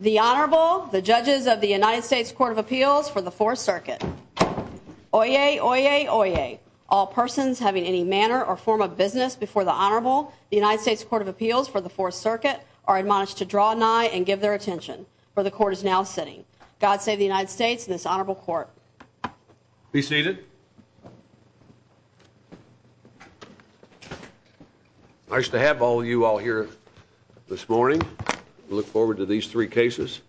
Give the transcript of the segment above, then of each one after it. The Honorable, the judges of the United States Court of Appeals for the Fourth Circuit. Oyez, oyez, oyez. All persons having any manner or form of business before the Honorable, the United States Court of Appeals for the Fourth Circuit, are admonished to draw nigh and give their attention. For the court is now sitting. God save the United States and this honorable court. Be seated. Nice to have all of you all here this morning. I look forward to these three cases.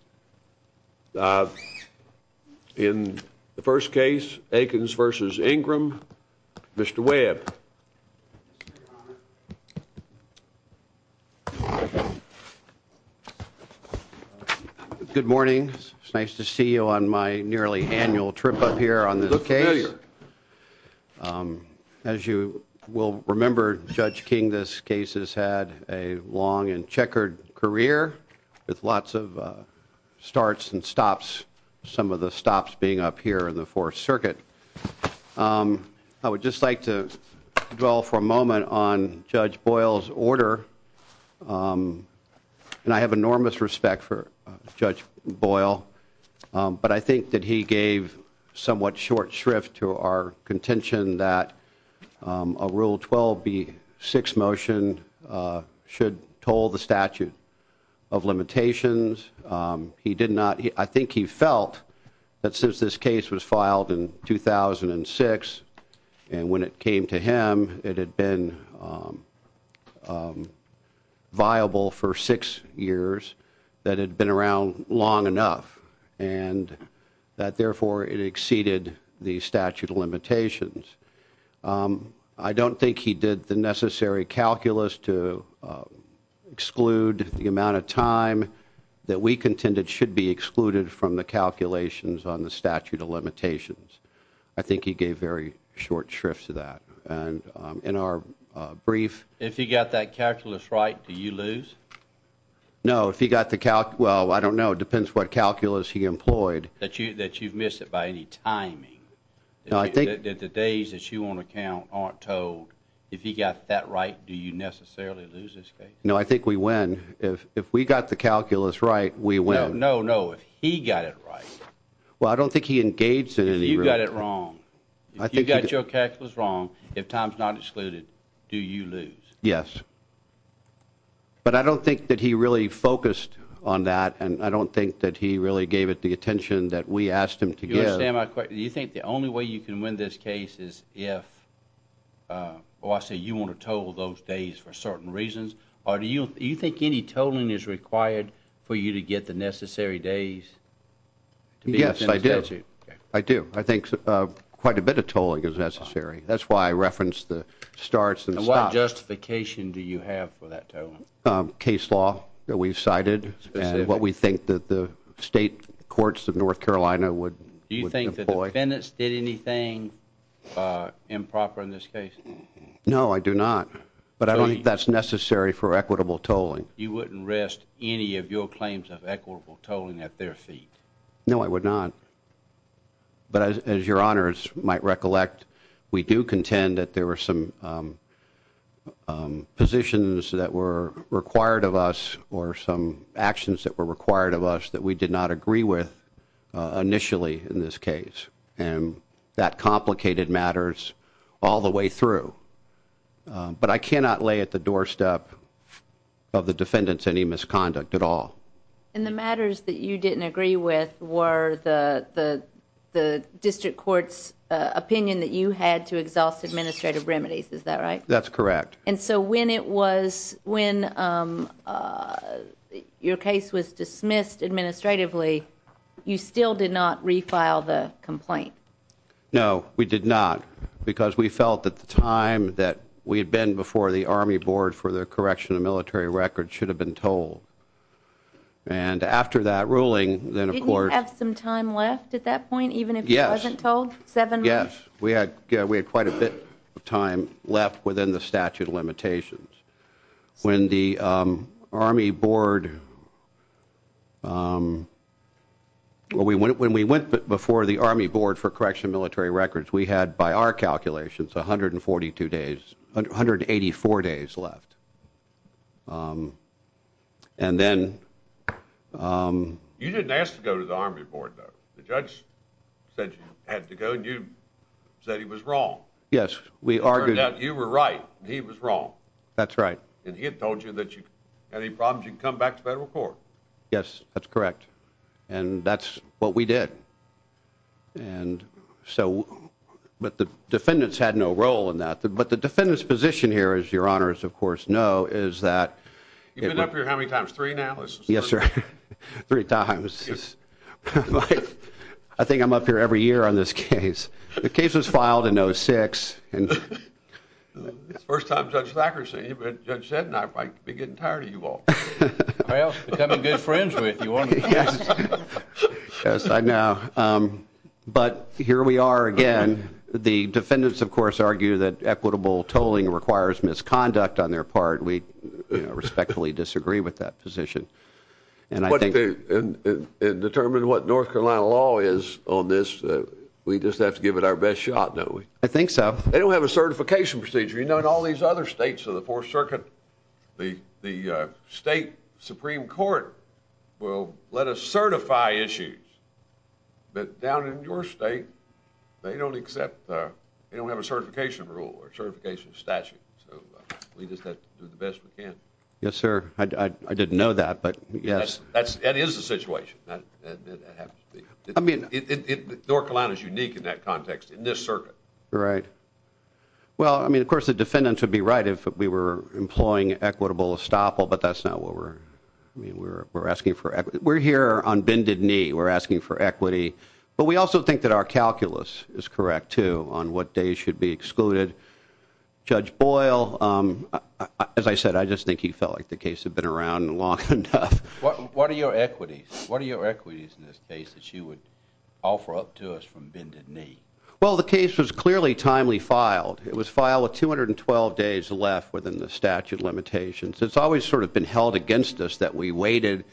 In the first case, Aikens v. Ingram, Mr. Webb. Good morning. It's nice to see you on my nearly annual trip up here on this case. As you will remember, Judge King, this case has had a long and checkered career with lots of starts and stops. Some of the stops being up here in the Fourth Circuit. I would just like to dwell for a moment on Judge Boyle's order. And I have enormous respect for Judge Boyle. But I think that he gave somewhat short shrift to our contention that a Rule 12b6 motion should toll the statute of limitations. I think he felt that since this case was filed in 2006, and when it came to him, it had been viable for six years, that it had been around long enough. And that therefore it exceeded the statute of limitations. I don't think he did the necessary calculus to exclude the amount of time that we contended should be excluded from the calculations on the statute of limitations. I think he gave very short shrift to that. And in our brief... If he got that calculus right, did you lose? No, if he got the cal... well, I don't know. It depends what calculus he employed. That you've missed it by any timing. The days that you want to count aren't told. If he got that right, do you necessarily lose this case? No, I think we win. If we got the calculus right, we win. No, no, no. If he got it right. Well, I don't think he engaged in any... If you got it wrong. If you got your calculus wrong, if time's not excluded, do you lose? Yes. But I don't think that he really focused on that, and I don't think that he really gave it the attention that we asked him to give. Do you understand my question? Do you think the only way you can win this case is if... Well, I say you want to total those days for certain reasons. Do you think any totaling is required for you to get the necessary days to be within the statute? Yes, I do. I do. I think quite a bit of totaling is necessary. That's why I referenced the starts and stops. And what justification do you have for that totaling? Based on the case law that we've cited and what we think that the state courts of North Carolina would employ... Do you think the defendants did anything improper in this case? No, I do not. But I don't think that's necessary for equitable tolling. You wouldn't rest any of your claims of equitable tolling at their feet? No, I would not. But as your honors might recollect, we do contend that there were some positions that were required of us, or some actions that were required of us that we did not agree with initially in this case. And that complicated matters all the way through. But I cannot lay at the doorstep of the defendants any misconduct at all. And the matters that you didn't agree with were the district court's opinion that you had to exhaust administrative remedies. Is that right? That's correct. And so when your case was dismissed administratively, you still did not refile the complaint? No, we did not. Because we felt at the time that we had been before the Army Board for the correction of military records should have been told. And after that ruling, then of course... Didn't you have some time left at that point, even if you wasn't told? Yes, we had quite a bit of time left within the statute of limitations. When we went before the Army Board for correction of military records, we had, by our calculations, 184 days left. And then... You didn't ask to go to the Army Board, though. The judge said you had to go, and you said he was wrong. Yes, we argued... It turned out you were right, and he was wrong. That's right. And he had told you that if you had any problems, you could come back to federal court. Yes, that's correct. And that's what we did. But the defendants had no role in that. But the defendant's position here, as your honors, of course, know, is that... You've been up here how many times? Three now? Yes, sir. Three times. I think I'm up here every year on this case. The case was filed in 06. It's the first time Judge Thacker's seen you, but Judge Seddon and I might be getting tired of you all. Well, becoming good friends with you, aren't we? Yes, I know. But here we are again. The defendants, of course, argue that equitable tolling requires misconduct on their part. We respectfully disagree with that position. And determine what North Carolina law is on this, we just have to give it our best shot, don't we? I think so. They don't have a certification procedure. You know, in all these other states of the Fourth Circuit, the state Supreme Court will let us certify issues. But down in your state, they don't have a certification rule or certification statute. So we just have to do the best we can. Yes, sir. I didn't know that, but yes. That is the situation. North Carolina is unique in that context, in this circuit. Right. Well, I mean, of course, the defendants would be right if we were employing equitable estoppel, but that's not what we're asking for. We're here on bended knee. We're asking for equity. But we also think that our calculus is correct, too, on what days should be excluded. Judge Boyle, as I said, I just think he felt like the case had been around long enough. What are your equities? What are your equities in this case that you would offer up to us from bended knee? Well, the case was clearly timely filed. It was filed with 212 days left within the statute of limitations. It's always sort of been held against us that we waited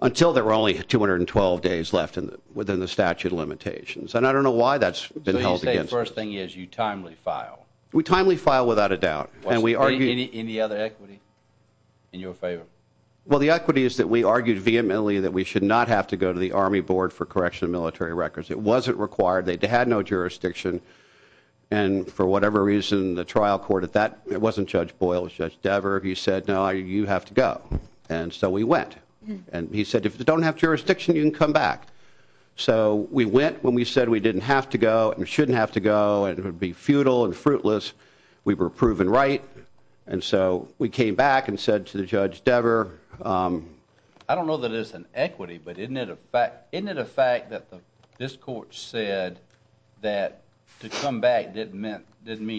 until there were only 212 days left within the statute of limitations. And I don't know why that's been held against us. So you say the first thing is you timely file? We timely file without a doubt. Any other equity in your favor? Well, the equity is that we argued vehemently that we should not have to go to the Army Board for correction of military records. It wasn't required. They had no jurisdiction. And for whatever reason, the trial court at that, it wasn't Judge Boyle. It was Judge Dever. He said, no, you have to go. And so we went. And he said, if you don't have jurisdiction, you can come back. So we went when we said we didn't have to go and shouldn't have to go and it would be futile and fruitless. We were proven right. And so we came back and said to Judge Dever, I don't know that it's an equity, but isn't it a fact that this court said that to come back didn't mean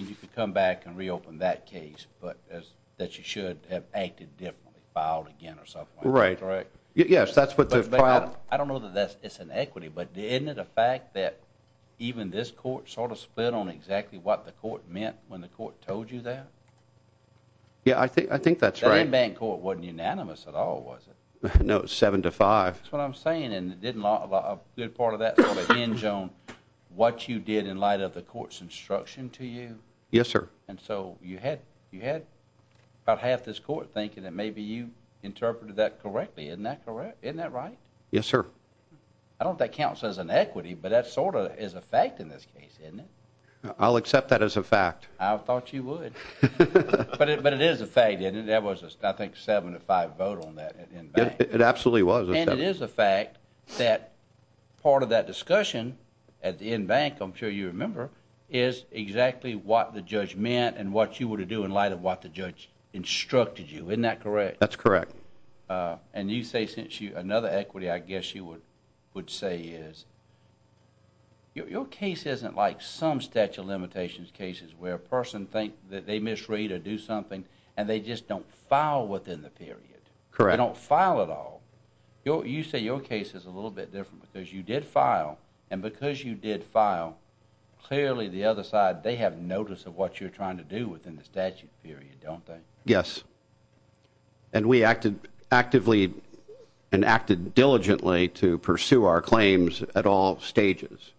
you could come back and reopen that case, but that you should have acted differently, filed again or something like that, correct? Right. Yes, that's what the file I don't know that it's an equity, but isn't it a fact that even this court sort of split on exactly what the court meant when the court told you that? Yeah, I think that's right. The in bank court wasn't unanimous at all, was it? No, seven to five. That's what I'm saying. And didn't a good part of that sort of hinge on what you did in light of the court's instruction to you? Yes, sir. And so you had you had about half this court thinking that maybe you interpreted that correctly. Isn't that correct? Isn't that right? Yes, sir. I don't think counts as an equity, but that sort of is a fact in this case, isn't it? I'll accept that as a fact. I thought you would. But it is a fact. And there was, I think, seven to five vote on that. It absolutely was. And it is a fact that part of that discussion at the in bank, I'm sure you remember, is exactly what the judge meant and what you were to do in light of what the judge instructed you. Isn't that correct? That's correct. And you say since you another equity, I guess you would would say is your case isn't like some statute limitations cases where a person think that they misread or do something and they just don't file within the period. Correct. Don't file at all. You say your case is a little bit different because you did file and because you did file clearly the other side, they have notice of what you're trying to do within the statute period, don't they? Yes. And we acted actively and acted diligently to pursue our claims at all stages.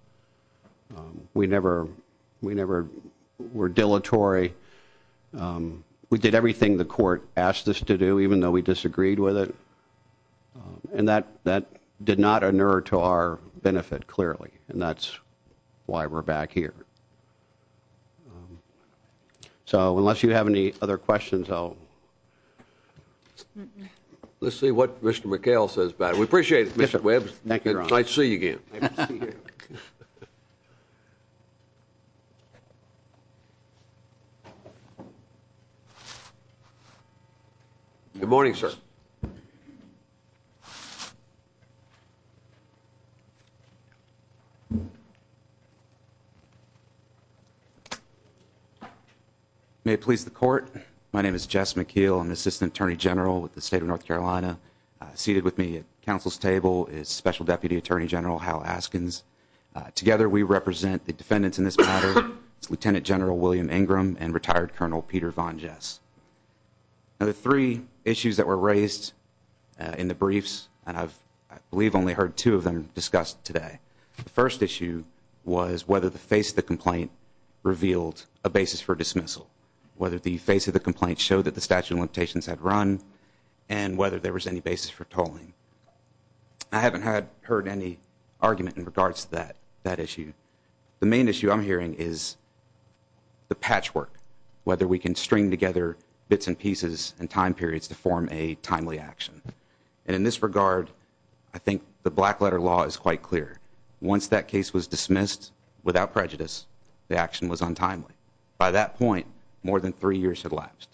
We never we never were dilatory. We did everything the court asked us to do, even though we disagreed with it. And that that did not inure to our benefit clearly. And that's why we're back here. So unless you have any other questions, I'll. Let's see what Mr. McHale says about it. We appreciate it. Thank you. I see you again. Good morning, sir. May it please the court. My name is Jess McHale. I'm assistant attorney general with the state of North Carolina. Seated with me at council's table is Special Deputy Attorney General Hal Askins. Together, we represent the defendants in this matter. It's Lieutenant General William Ingram and retired Colonel Peter Von Jess. Now, the three issues that were raised in the briefs and I've I believe only heard two of them discussed today. The first issue was whether the face of the complaint revealed a basis for dismissal, whether the face of the complaint showed that the statute of limitations had run and whether there was any basis for tolling. I haven't had heard any argument in regards to that that issue. The main issue I'm hearing is the patchwork, whether we can string together bits and pieces and time periods to form a timely action. And in this regard, I think the black letter law is quite clear. Once that case was dismissed without prejudice, the action was untimely. By that point, more than three years had lapsed.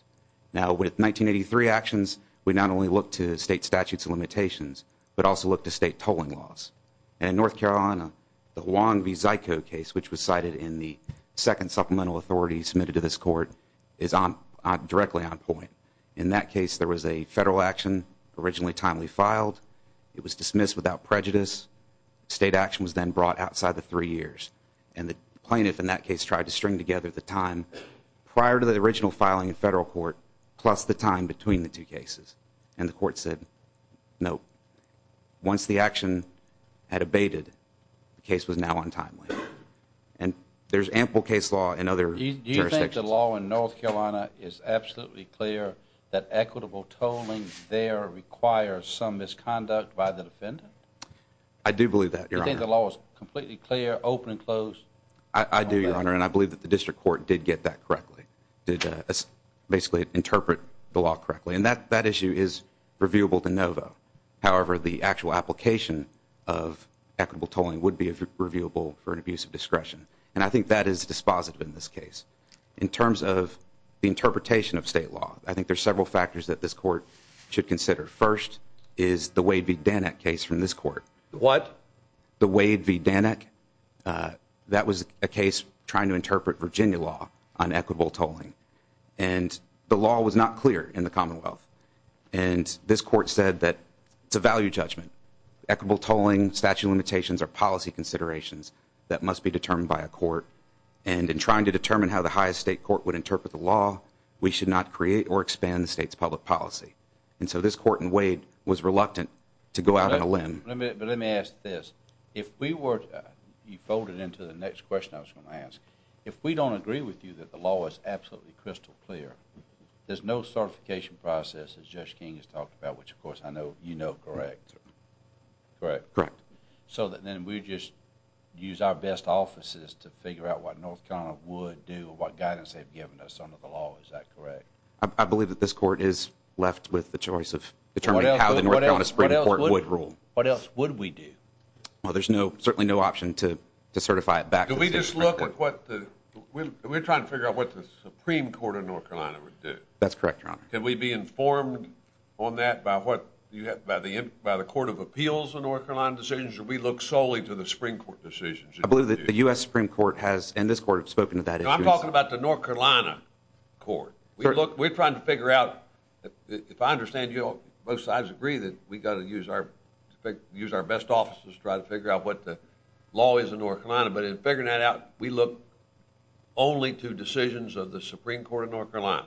Now, with 1983 actions, we not only look to state statutes and limitations, but also look to state tolling laws. And in North Carolina, the Wong v. Zico case, which was cited in the second supplemental authority submitted to this court, is directly on point. In that case, there was a federal action originally timely filed. It was dismissed without prejudice. State action was then brought outside the three years. And the plaintiff in that case tried to string together the time prior to the original filing in federal court plus the time between the two cases. And the court said no. Once the action had abated, the case was now untimely. And there's ample case law in other jurisdictions. Do you think the law in North Carolina is absolutely clear that equitable tolling there requires some misconduct by the defendant? I do believe that, Your Honor. Do you think the law is completely clear, open and closed? I do, Your Honor, and I believe that the district court did get that correctly. Did basically interpret the law correctly. And that issue is reviewable to no vote. However, the actual application of equitable tolling would be reviewable for an abuse of discretion. And I think that is dispositive in this case. In terms of the interpretation of state law, I think there's several factors that this court should consider. First is the Wade v. Danek case from this court. The Wade v. Danek. That was a case trying to interpret Virginia law on equitable tolling. And the law was not clear in the Commonwealth. And this court said that it's a value judgment. Equitable tolling, statute of limitations are policy considerations that must be determined by a court. And in trying to determine how the highest state court would interpret the law, we should not create or expand the state's public policy. And so this court in Wade was reluctant to go out on a limb. But let me ask this. You folded into the next question I was going to ask. If we don't agree with you that the law is absolutely crystal clear, there's no certification process as Judge King has talked about, which of course I know you know correct. Correct. So then we just use our best offices to figure out what North Carolina would do, what guidance they've given us under the law. Is that correct? I believe that this court is left with the choice of determining how the North Carolina Supreme Court would rule. What else would we do? Well, there's no certainly no option to to certify it back. Do we just look at what we're trying to figure out what the Supreme Court of North Carolina would do? That's correct. Can we be informed on that by what you have by the by the Court of Appeals in North Carolina decisions? We look solely to the Supreme Court decisions. I believe that the US Supreme Court has in this court have spoken to that. I'm talking about the North Carolina court. Look, we're trying to figure out if I understand you. Both sides agree that we got to use our best offices to try to figure out what the law is in North Carolina. But in figuring that out, we look only to decisions of the Supreme Court of North Carolina.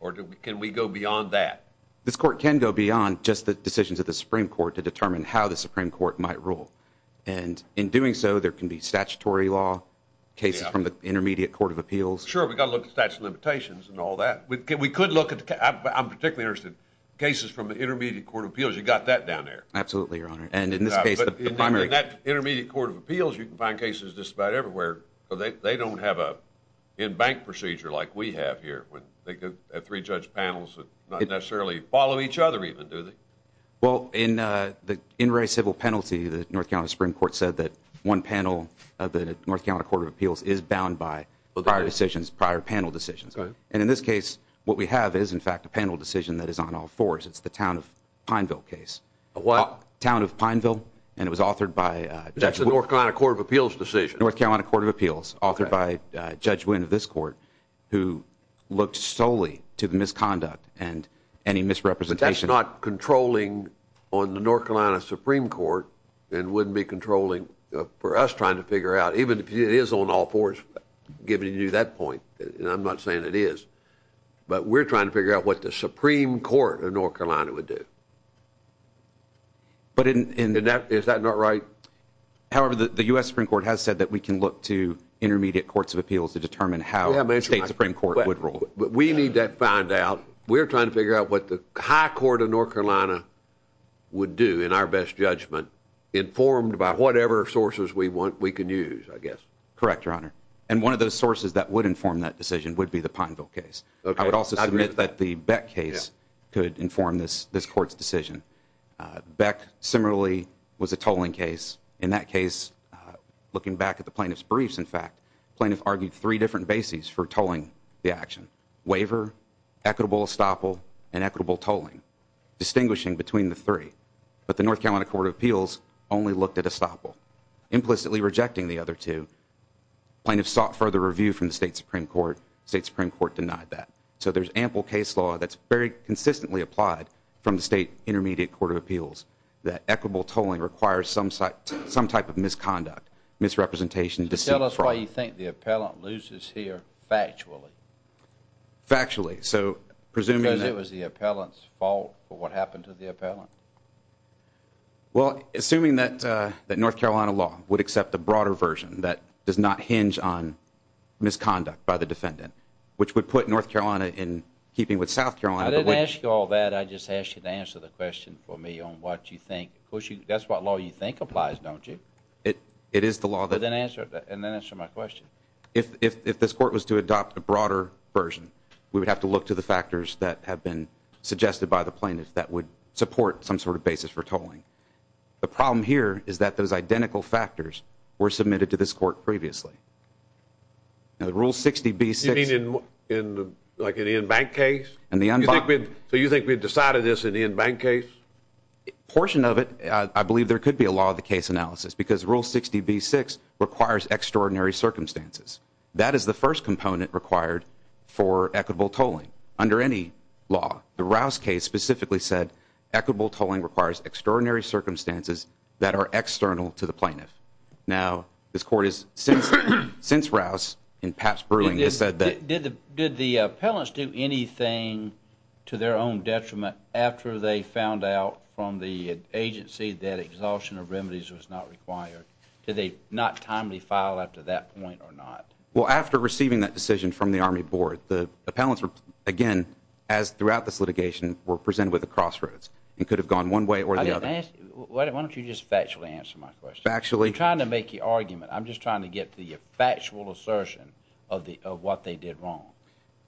Or can we go beyond that? This court can go beyond just the decisions of the Supreme Court to determine how the Supreme Court might rule. And in doing so, there can be statutory law cases from the Intermediate Court of Appeals. Sure, we got to look at statute of limitations and all that. We could look at, I'm particularly interested, cases from the Intermediate Court of Appeals. You got that down there? Absolutely, Your Honor. In that Intermediate Court of Appeals, you can find cases just about everywhere. They don't have an in-bank procedure like we have here. They have three judge panels that don't necessarily follow each other even, do they? Well, in the civil penalty, the North Carolina Supreme Court said that one panel of the North Carolina Court of Appeals is bound by prior panel decisions. And in this case, what we have is, in fact, a panel decision that is on all fours. It's the town of Pineville case. What? Town of Pineville. And it was authored by... That's the North Carolina Court of Appeals decision. North Carolina Court of Appeals, authored by Judge Wynn of this court, who looked solely to the misconduct and any misrepresentation. But that's not controlling on the North Carolina Supreme Court and wouldn't be controlling for us trying to figure out, even if it is on all fours, giving you that point. And I'm not saying it is. But we're trying to figure out what the Supreme Court of North Carolina would do. But in... Is that not right? However, the U.S. Supreme Court has said that we can look to intermediate courts of appeals to determine how the state Supreme Court would rule. But we need to find out. We're trying to figure out what the high court of North Carolina would do in our best judgment, informed by whatever sources we want, we can use, I guess. Correct, Your Honor. And one of those sources that would inform that decision would be the Pineville case. I would also submit that the Beck case could inform this court's decision. Beck, similarly, was a tolling case. In that case, looking back at the plaintiff's briefs, in fact, plaintiff argued three different bases for tolling the action. Waiver, equitable estoppel, and equitable tolling. Distinguishing between the three. But the North Carolina Court of Appeals only looked at estoppel. Implicitly rejecting the other two. Plaintiff sought further review from the state Supreme Court. State Supreme Court denied that. So there's ample case law that's very consistently applied from the state intermediate court of appeals. That equitable tolling requires some type of misconduct, misrepresentation, deceit, fraud. Tell us why you think the appellant loses here, factually. Factually. Because it was the appellant's fault for what happened to the appellant. Well, assuming that North Carolina law would accept a broader version that does not hinge on misconduct by the defendant. Which would put North Carolina in keeping with South Carolina. I didn't ask you all that. I just asked you to answer the question for me on what you think. Of course, that's what law you think applies, don't you? It is the law that. And then answer my question. If this court was to adopt a broader version, we would have to look to the factors that have been suggested by the plaintiff that would support some sort of basis for tolling. The problem here is that those identical factors were submitted to this court previously. Rule 60B-6. You mean like an in-bank case? So you think we've decided this in the in-bank case? Portion of it, I believe there could be a law of the case analysis. Because Rule 60B-6 requires extraordinary circumstances. That is the first component required for equitable tolling under any law. The Rouse case specifically said equitable tolling requires extraordinary circumstances that are external to the plaintiff. Now, this court has since Rouse, in past brewing, has said that... Did the appellants do anything to their own detriment after they found out from the agency that exhaustion of remedies was not required? Did they not timely file after that point or not? Well, after receiving that decision from the Army Board, the appellants, again, as throughout this litigation, were presented with a crossroads and could have gone one way or the other. Why don't you just factually answer my question? I'm trying to make the argument. I'm just trying to get the factual assertion of what they did wrong.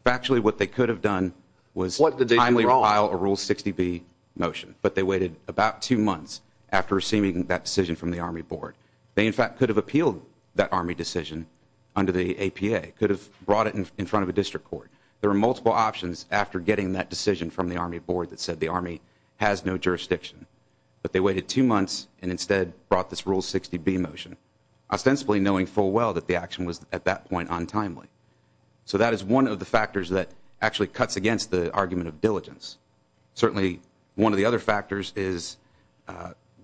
Factually, what they could have done was timely file a Rule 60B motion. But they waited about two months after receiving that decision from the Army Board. They, in fact, could have appealed that Army decision under the APA, could have brought it in front of a district court. There are multiple options after getting that decision from the Army Board that said the Army has no jurisdiction. But they waited two months and instead brought this Rule 60B motion, ostensibly knowing full well that the action was, at that point, untimely. So that is one of the factors that actually cuts against the argument of diligence. Certainly, one of the other factors is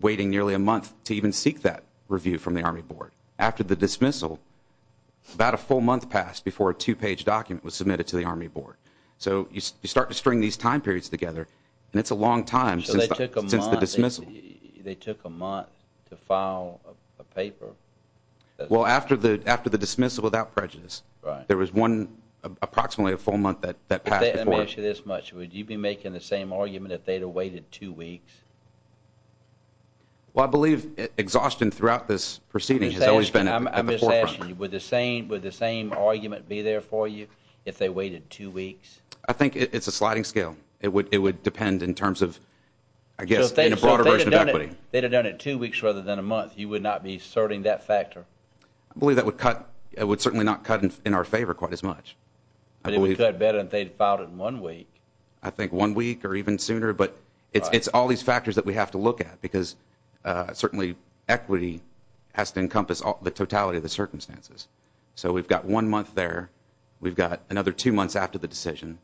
waiting nearly a month to even seek that review from the Army Board. After the dismissal, about a full month passed before a two-page document was submitted to the Army Board. So you start to string these time periods together, and it's a long time since the dismissal. So they took a month to file a paper? Well, after the dismissal without prejudice, there was approximately a full month that passed before. Let me ask you this much. Would you be making the same argument if they'd have waited two weeks? Well, I believe exhaustion throughout this proceeding has always been at the forefront. I'm just asking you, would the same argument be there for you if they waited two weeks? I think it's a sliding scale. It would depend in terms of, I guess, in a broader version of equity. So if they'd have done it two weeks rather than a month, you would not be asserting that factor? I believe that would certainly not cut in our favor quite as much. But it would cut better if they'd filed it in one week. I think one week or even sooner, but it's all these factors that we have to look at, because certainly equity has to encompass the totality of the circumstances. So we've got one month there. We've got another two months after the decision.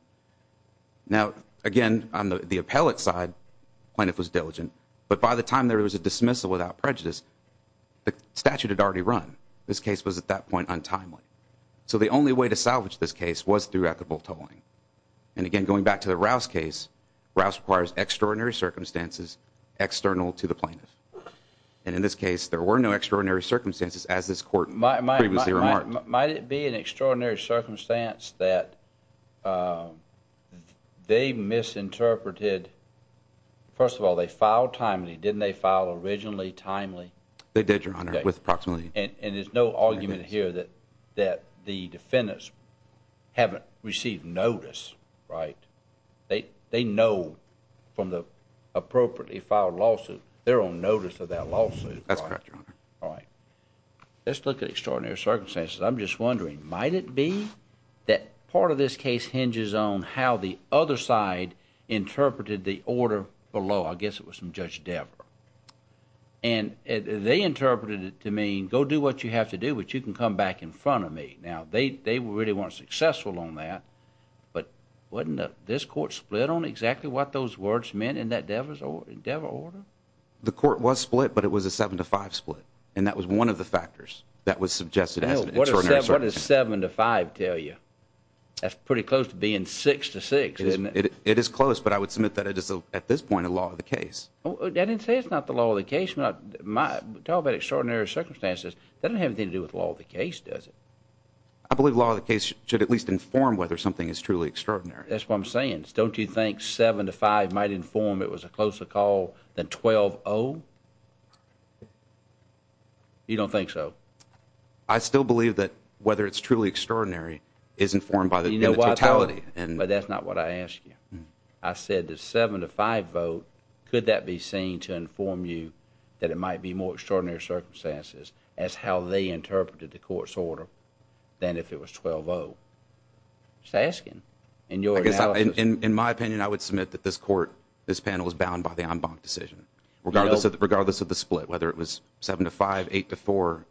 Now, again, on the appellate side, Plaintiff was diligent, but by the time there was a dismissal without prejudice, the statute had already run. This case was at that point untimely. So the only way to salvage this case was through equitable tolling. And again, going back to the Rouse case, Rouse requires extraordinary circumstances external to the plaintiff. And in this case, there were no extraordinary circumstances, as this court previously remarked. Might it be an extraordinary circumstance that they misinterpreted? First of all, they filed timely. Didn't they file originally timely? They did, Your Honor, with proximity. And there's no argument here that the defendants haven't received notice, right? They know from the appropriately filed lawsuit, they're on notice of that lawsuit. That's correct, Your Honor. Let's look at extraordinary circumstances. I'm just wondering, might it be that part of this case hinges on how the other side interpreted the order below? I guess it was from Judge Dever. And they interpreted it to mean, go do what you have to do, but you can come back in front of me. Now, they really weren't successful on that, but wasn't this court split on exactly what those words meant in that Dever order? The court was split, but it was a 7 to 5 split. And that was one of the factors that was suggested as an extraordinary circumstance. What does 7 to 5 tell you? That's pretty close to being 6 to 6, isn't it? It is close, but I would submit that it is, at this point, a law of the case. I didn't say it's not the law of the case. To talk about extraordinary circumstances, that doesn't have anything to do with the law of the case, does it? I believe the law of the case should at least inform whether something is truly extraordinary. That's what I'm saying. Don't you think 7 to 5 might inform it was a closer call than 12-0? You don't think so? I still believe that whether it's truly extraordinary is informed by the totality. But that's not what I asked you. I said the 7 to 5 vote, could that be seen to inform you that it might be more extraordinary circumstances as how they interpreted the court's order than if it was 12-0? I'm just asking. In my opinion, I would submit that this panel is bound by the en banc decision, regardless of the split, whether it was 7 to 5, 8 to 4.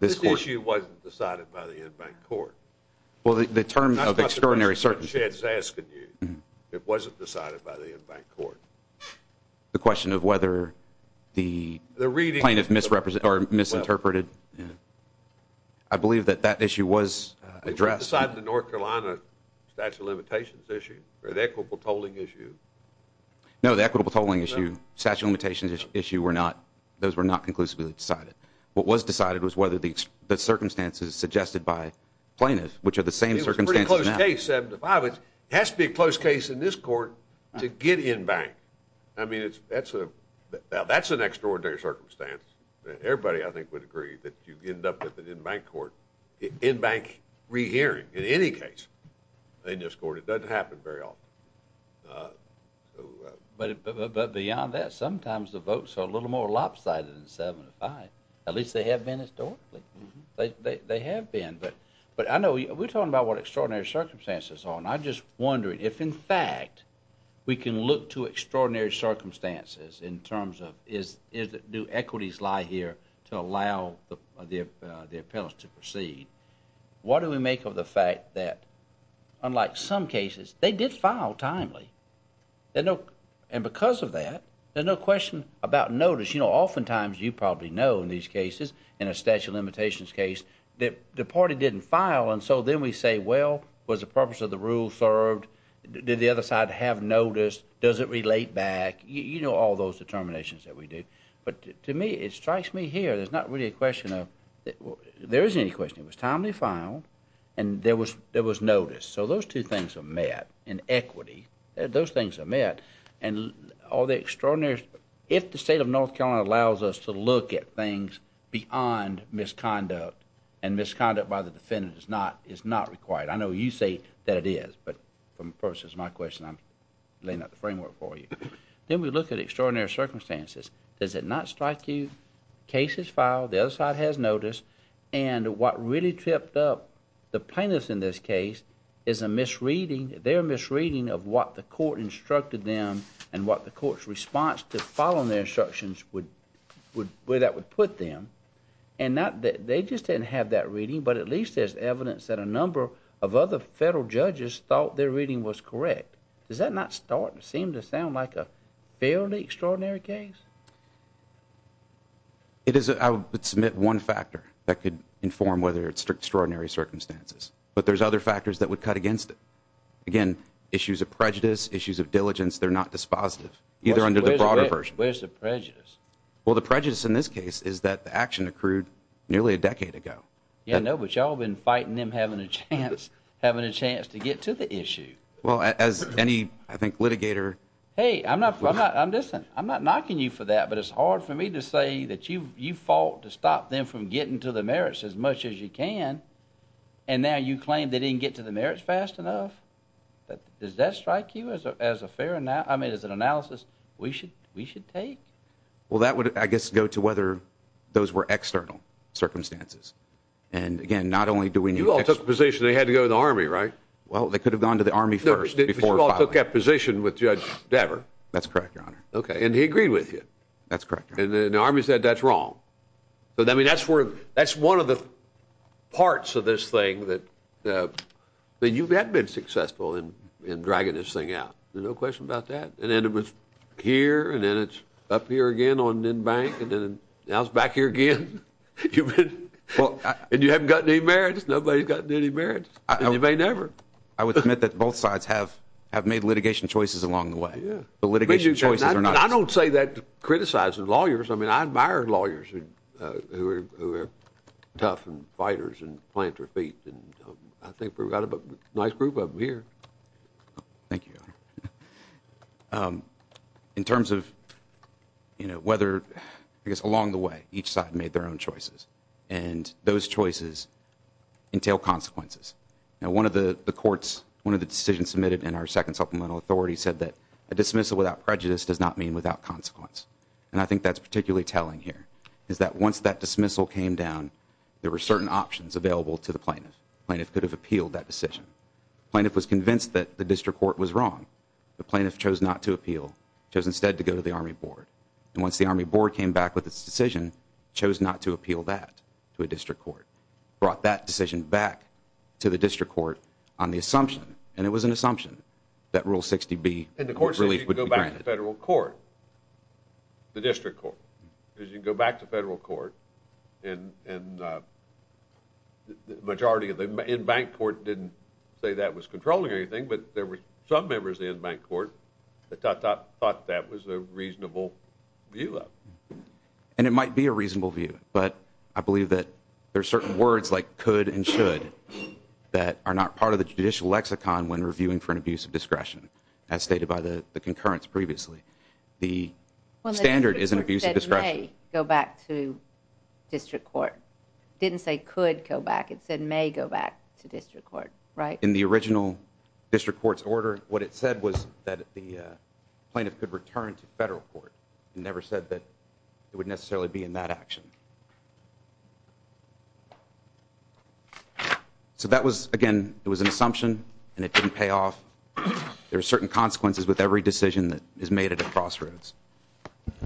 This issue wasn't decided by the en banc court. Well, the term of extraordinary circumstances. It wasn't decided by the en banc court. The question of whether the plaintiff misinterpreted. I believe that that issue was addressed. Was it decided in the North Carolina statute of limitations issue? Or the equitable tolling issue? No, the equitable tolling issue, statute of limitations issue, those were not conclusively decided. What was decided was whether the circumstances suggested by plaintiffs, the same circumstances now. It was a pretty close case, 7 to 5. It has to be a close case in this court to get en banc. I mean, that's an extraordinary circumstance. Everybody, I think, would agree that you end up with an en banc court, en banc rehearing in any case in this court. It doesn't happen very often. But beyond that, sometimes the votes are a little more lopsided than 7 to 5. At least they have been historically. They have been. Let's talk about what extraordinary circumstances are. I'm just wondering if, in fact, we can look to extraordinary circumstances in terms of do equities lie here to allow the appellants to proceed. What do we make of the fact that, unlike some cases, they did file timely. And because of that, there's no question about notice. Oftentimes, you probably know in these cases, in a statute of limitations case, that the party didn't file. They say, well, was the purpose of the rule served? Did the other side have notice? Does it relate back? You know all those determinations that we do. But to me, it strikes me here, there's not really a question of there isn't any question. It was timely filed, and there was notice. So those two things are met in equity. Those things are met. And all the extraordinary, if the state of North Carolina allows us to look at things beyond misconduct, and misconduct by the defendant is not required. I know you say that it is. But for the purposes of my question, I'm laying out the framework for you. Then we look at extraordinary circumstances. Does it not strike you cases filed, the other side has notice, and what really tripped up the plaintiffs in this case is their misreading of what the court instructed them and what the court's response to following their instructions would put them. They just didn't have that reading, but at least there's evidence that a number of other federal judges thought their reading was correct. Does that not seem to sound like a fairly extraordinary case? I would submit one factor that could inform whether it's extraordinary circumstances. But there's other factors that would cut against it. Again, issues of prejudice, issues of diligence, they're not dispositive, either under the broader version. Where's the prejudice? Well, the prejudice in this case is that the action accrued nearly a decade ago. Yeah, I know, but y'all been fighting them having a chance to get to the issue. Well, as any, I think, litigator... Hey, I'm not knocking you for that, but it's hard for me to say that you fought to stop them from getting to the merits as much as you can, and now you claim they didn't get to the merits fast enough. Does that strike you as an analysis we should take? Well, that would, I guess, go to whether those were external circumstances. And again, not only do we need... You all took the position they had to go to the Army, right? Well, they could have gone to the Army first before filing. You all took that position with Judge Dever. That's correct, Your Honor. Okay, and he agreed with you. That's correct, Your Honor. And the Army said that's wrong. That's one of the parts of this thing that you have been successful in dragging this thing out. There's no question about that. And then it was here, and then it's up here again on Nen Bank, and then now it's back here again. And you haven't gotten any merits. Nobody's gotten any merits, and you may never. I would admit that both sides have made litigation choices along the way. But litigation choices are not... I don't say that criticizing lawyers. I mean, I admire lawyers who are tough and fighters and I think we've got a nice group of them here. Thank you, Your Honor. In terms of whether... I guess along the way, each side made their own choices. And those choices entail consequences. Now, one of the courts, one of the decisions submitted in our second supplemental authority said that a dismissal without prejudice does not mean without consequence. And I think that's particularly telling here is that once that dismissal came down, there were certain options available to the plaintiff. The plaintiff could have appealed that decision. The plaintiff was convinced that the district court was wrong. The plaintiff chose not to appeal, chose instead to go to the Army Board. And once the Army Board came back with its decision, chose not to appeal that to a district court. Brought that decision back to the district court on the assumption, and it was an assumption, that Rule 60B relief would be granted. And the court says you can go back to federal court, the district court. Because you can go back to federal court and the majority of the... and bank court didn't say that was controlling anything, but there were some members in bank court that thought that was a reasonable view of it. And it might be a reasonable view, but I believe that there are certain words like could and should that are not part of the judicial lexicon when reviewing for an abuse of discretion, as stated by the concurrence previously. The standard is an abuse of discretion. Well, the district court said may go back to district court. It didn't say could go back. It said may go back to district court, right? In the original district court's order, what it said was that the plaintiff could return to federal court. It never said that it would necessarily be in that action. So that was, again, it was an assumption, and it didn't pay off. There are certain consequences with every decision that is made at a crossroads.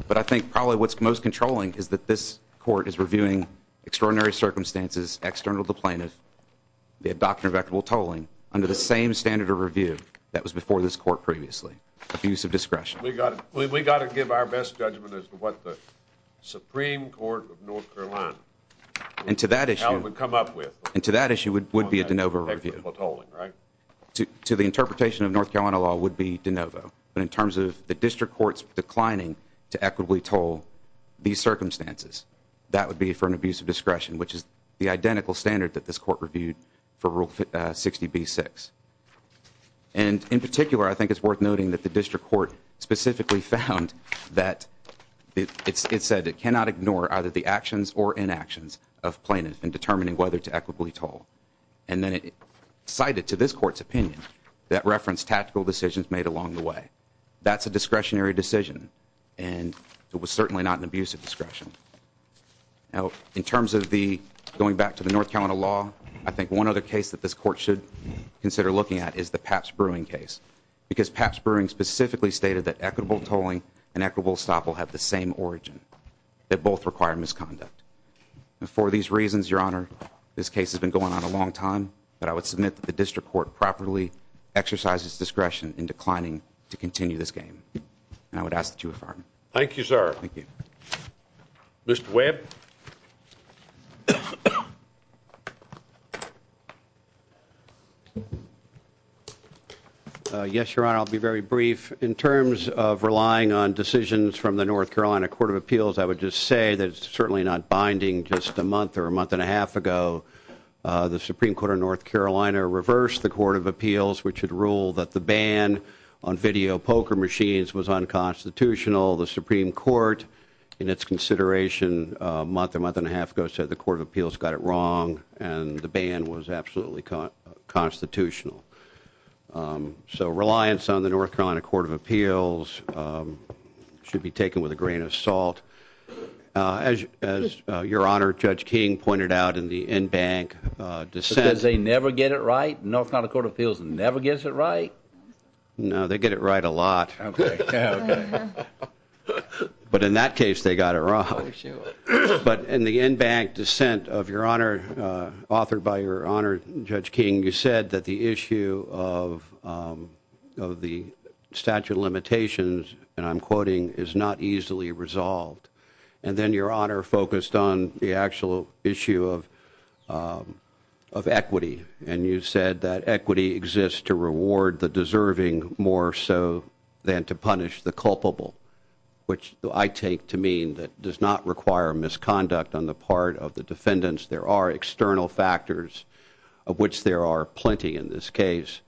But I think probably what's most controlling is that this court is reviewing extraordinary circumstances external to the plaintiff. They have doctrine of equitable tolling under the same standard of review that was before this court previously, abuse of discretion. We got to give our best judgment as to what the Supreme Court of North Carolina would come up with. And to that issue would be a de novo review. To the interpretation of North Carolina law would be de novo. But in terms of the district court's declining to equitably toll these circumstances, that would be for an abuse of discretion, which is the identical standard for Rule 60B-6. And in particular, I think it's worth noting that the district court specifically found that it said it cannot ignore either the actions or inactions of plaintiff in determining whether to equitably toll. And then it cited to this court's opinion that referenced tactical decisions made along the way. That's a discretionary decision, and it was certainly not an abuse of discretion. Now, in terms of the, going back to the North Carolina law, one other case that this court should consider looking at is the Papps-Brewing case because Papps-Brewing specifically stated that equitable tolling and equitable stop will have the same origin, that both require misconduct. And for these reasons, Your Honor, this case has been going on a long time, but I would submit that the district court properly exercises discretion in declining to continue this game. And I would ask that you would pardon me. Thank you, sir. Thank you. Mr. Webb. Yes, Your Honor. I'll be very brief. In terms of relying on decisions from the North Carolina Court of Appeals, I would just say that it's certainly not binding. Just a month or a month and a half ago, the Supreme Court of North Carolina reversed the Court of Appeals, which had ruled that the ban on video poker machines was unconstitutional. The Supreme Court, in its consideration, a month or a month and a half ago, said the Court of Appeals got it wrong and the ban was absolutely constitutional. So reliance on the North Carolina Court of Appeals should be taken with a grain of salt. As Your Honor, Judge King pointed out in the in-bank dissent... Because they never get it right? North Carolina Court of Appeals never gets it right? No, they get it right a lot. Okay. But in that case, they got it wrong. Oh, sure. But in the in-bank dissent of Your Honor, authored by Your Honor, Judge King, you said that the issue of the statute of limitations, and I'm quoting, is not easily resolved. And then Your Honor focused on the actual issue of equity, to reward the deserving more so than to punish the culpable. Which I take to mean that does not require misconduct on the part of the defendants. There are external factors, of which there are plenty in this case,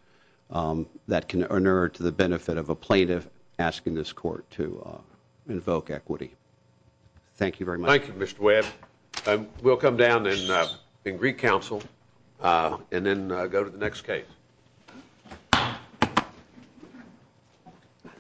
that can inure to the benefit of a plaintiff asking this court to invoke equity. Thank you very much. Thank you, Mr. Webb. We'll come down in Greek Council and then go to the next case.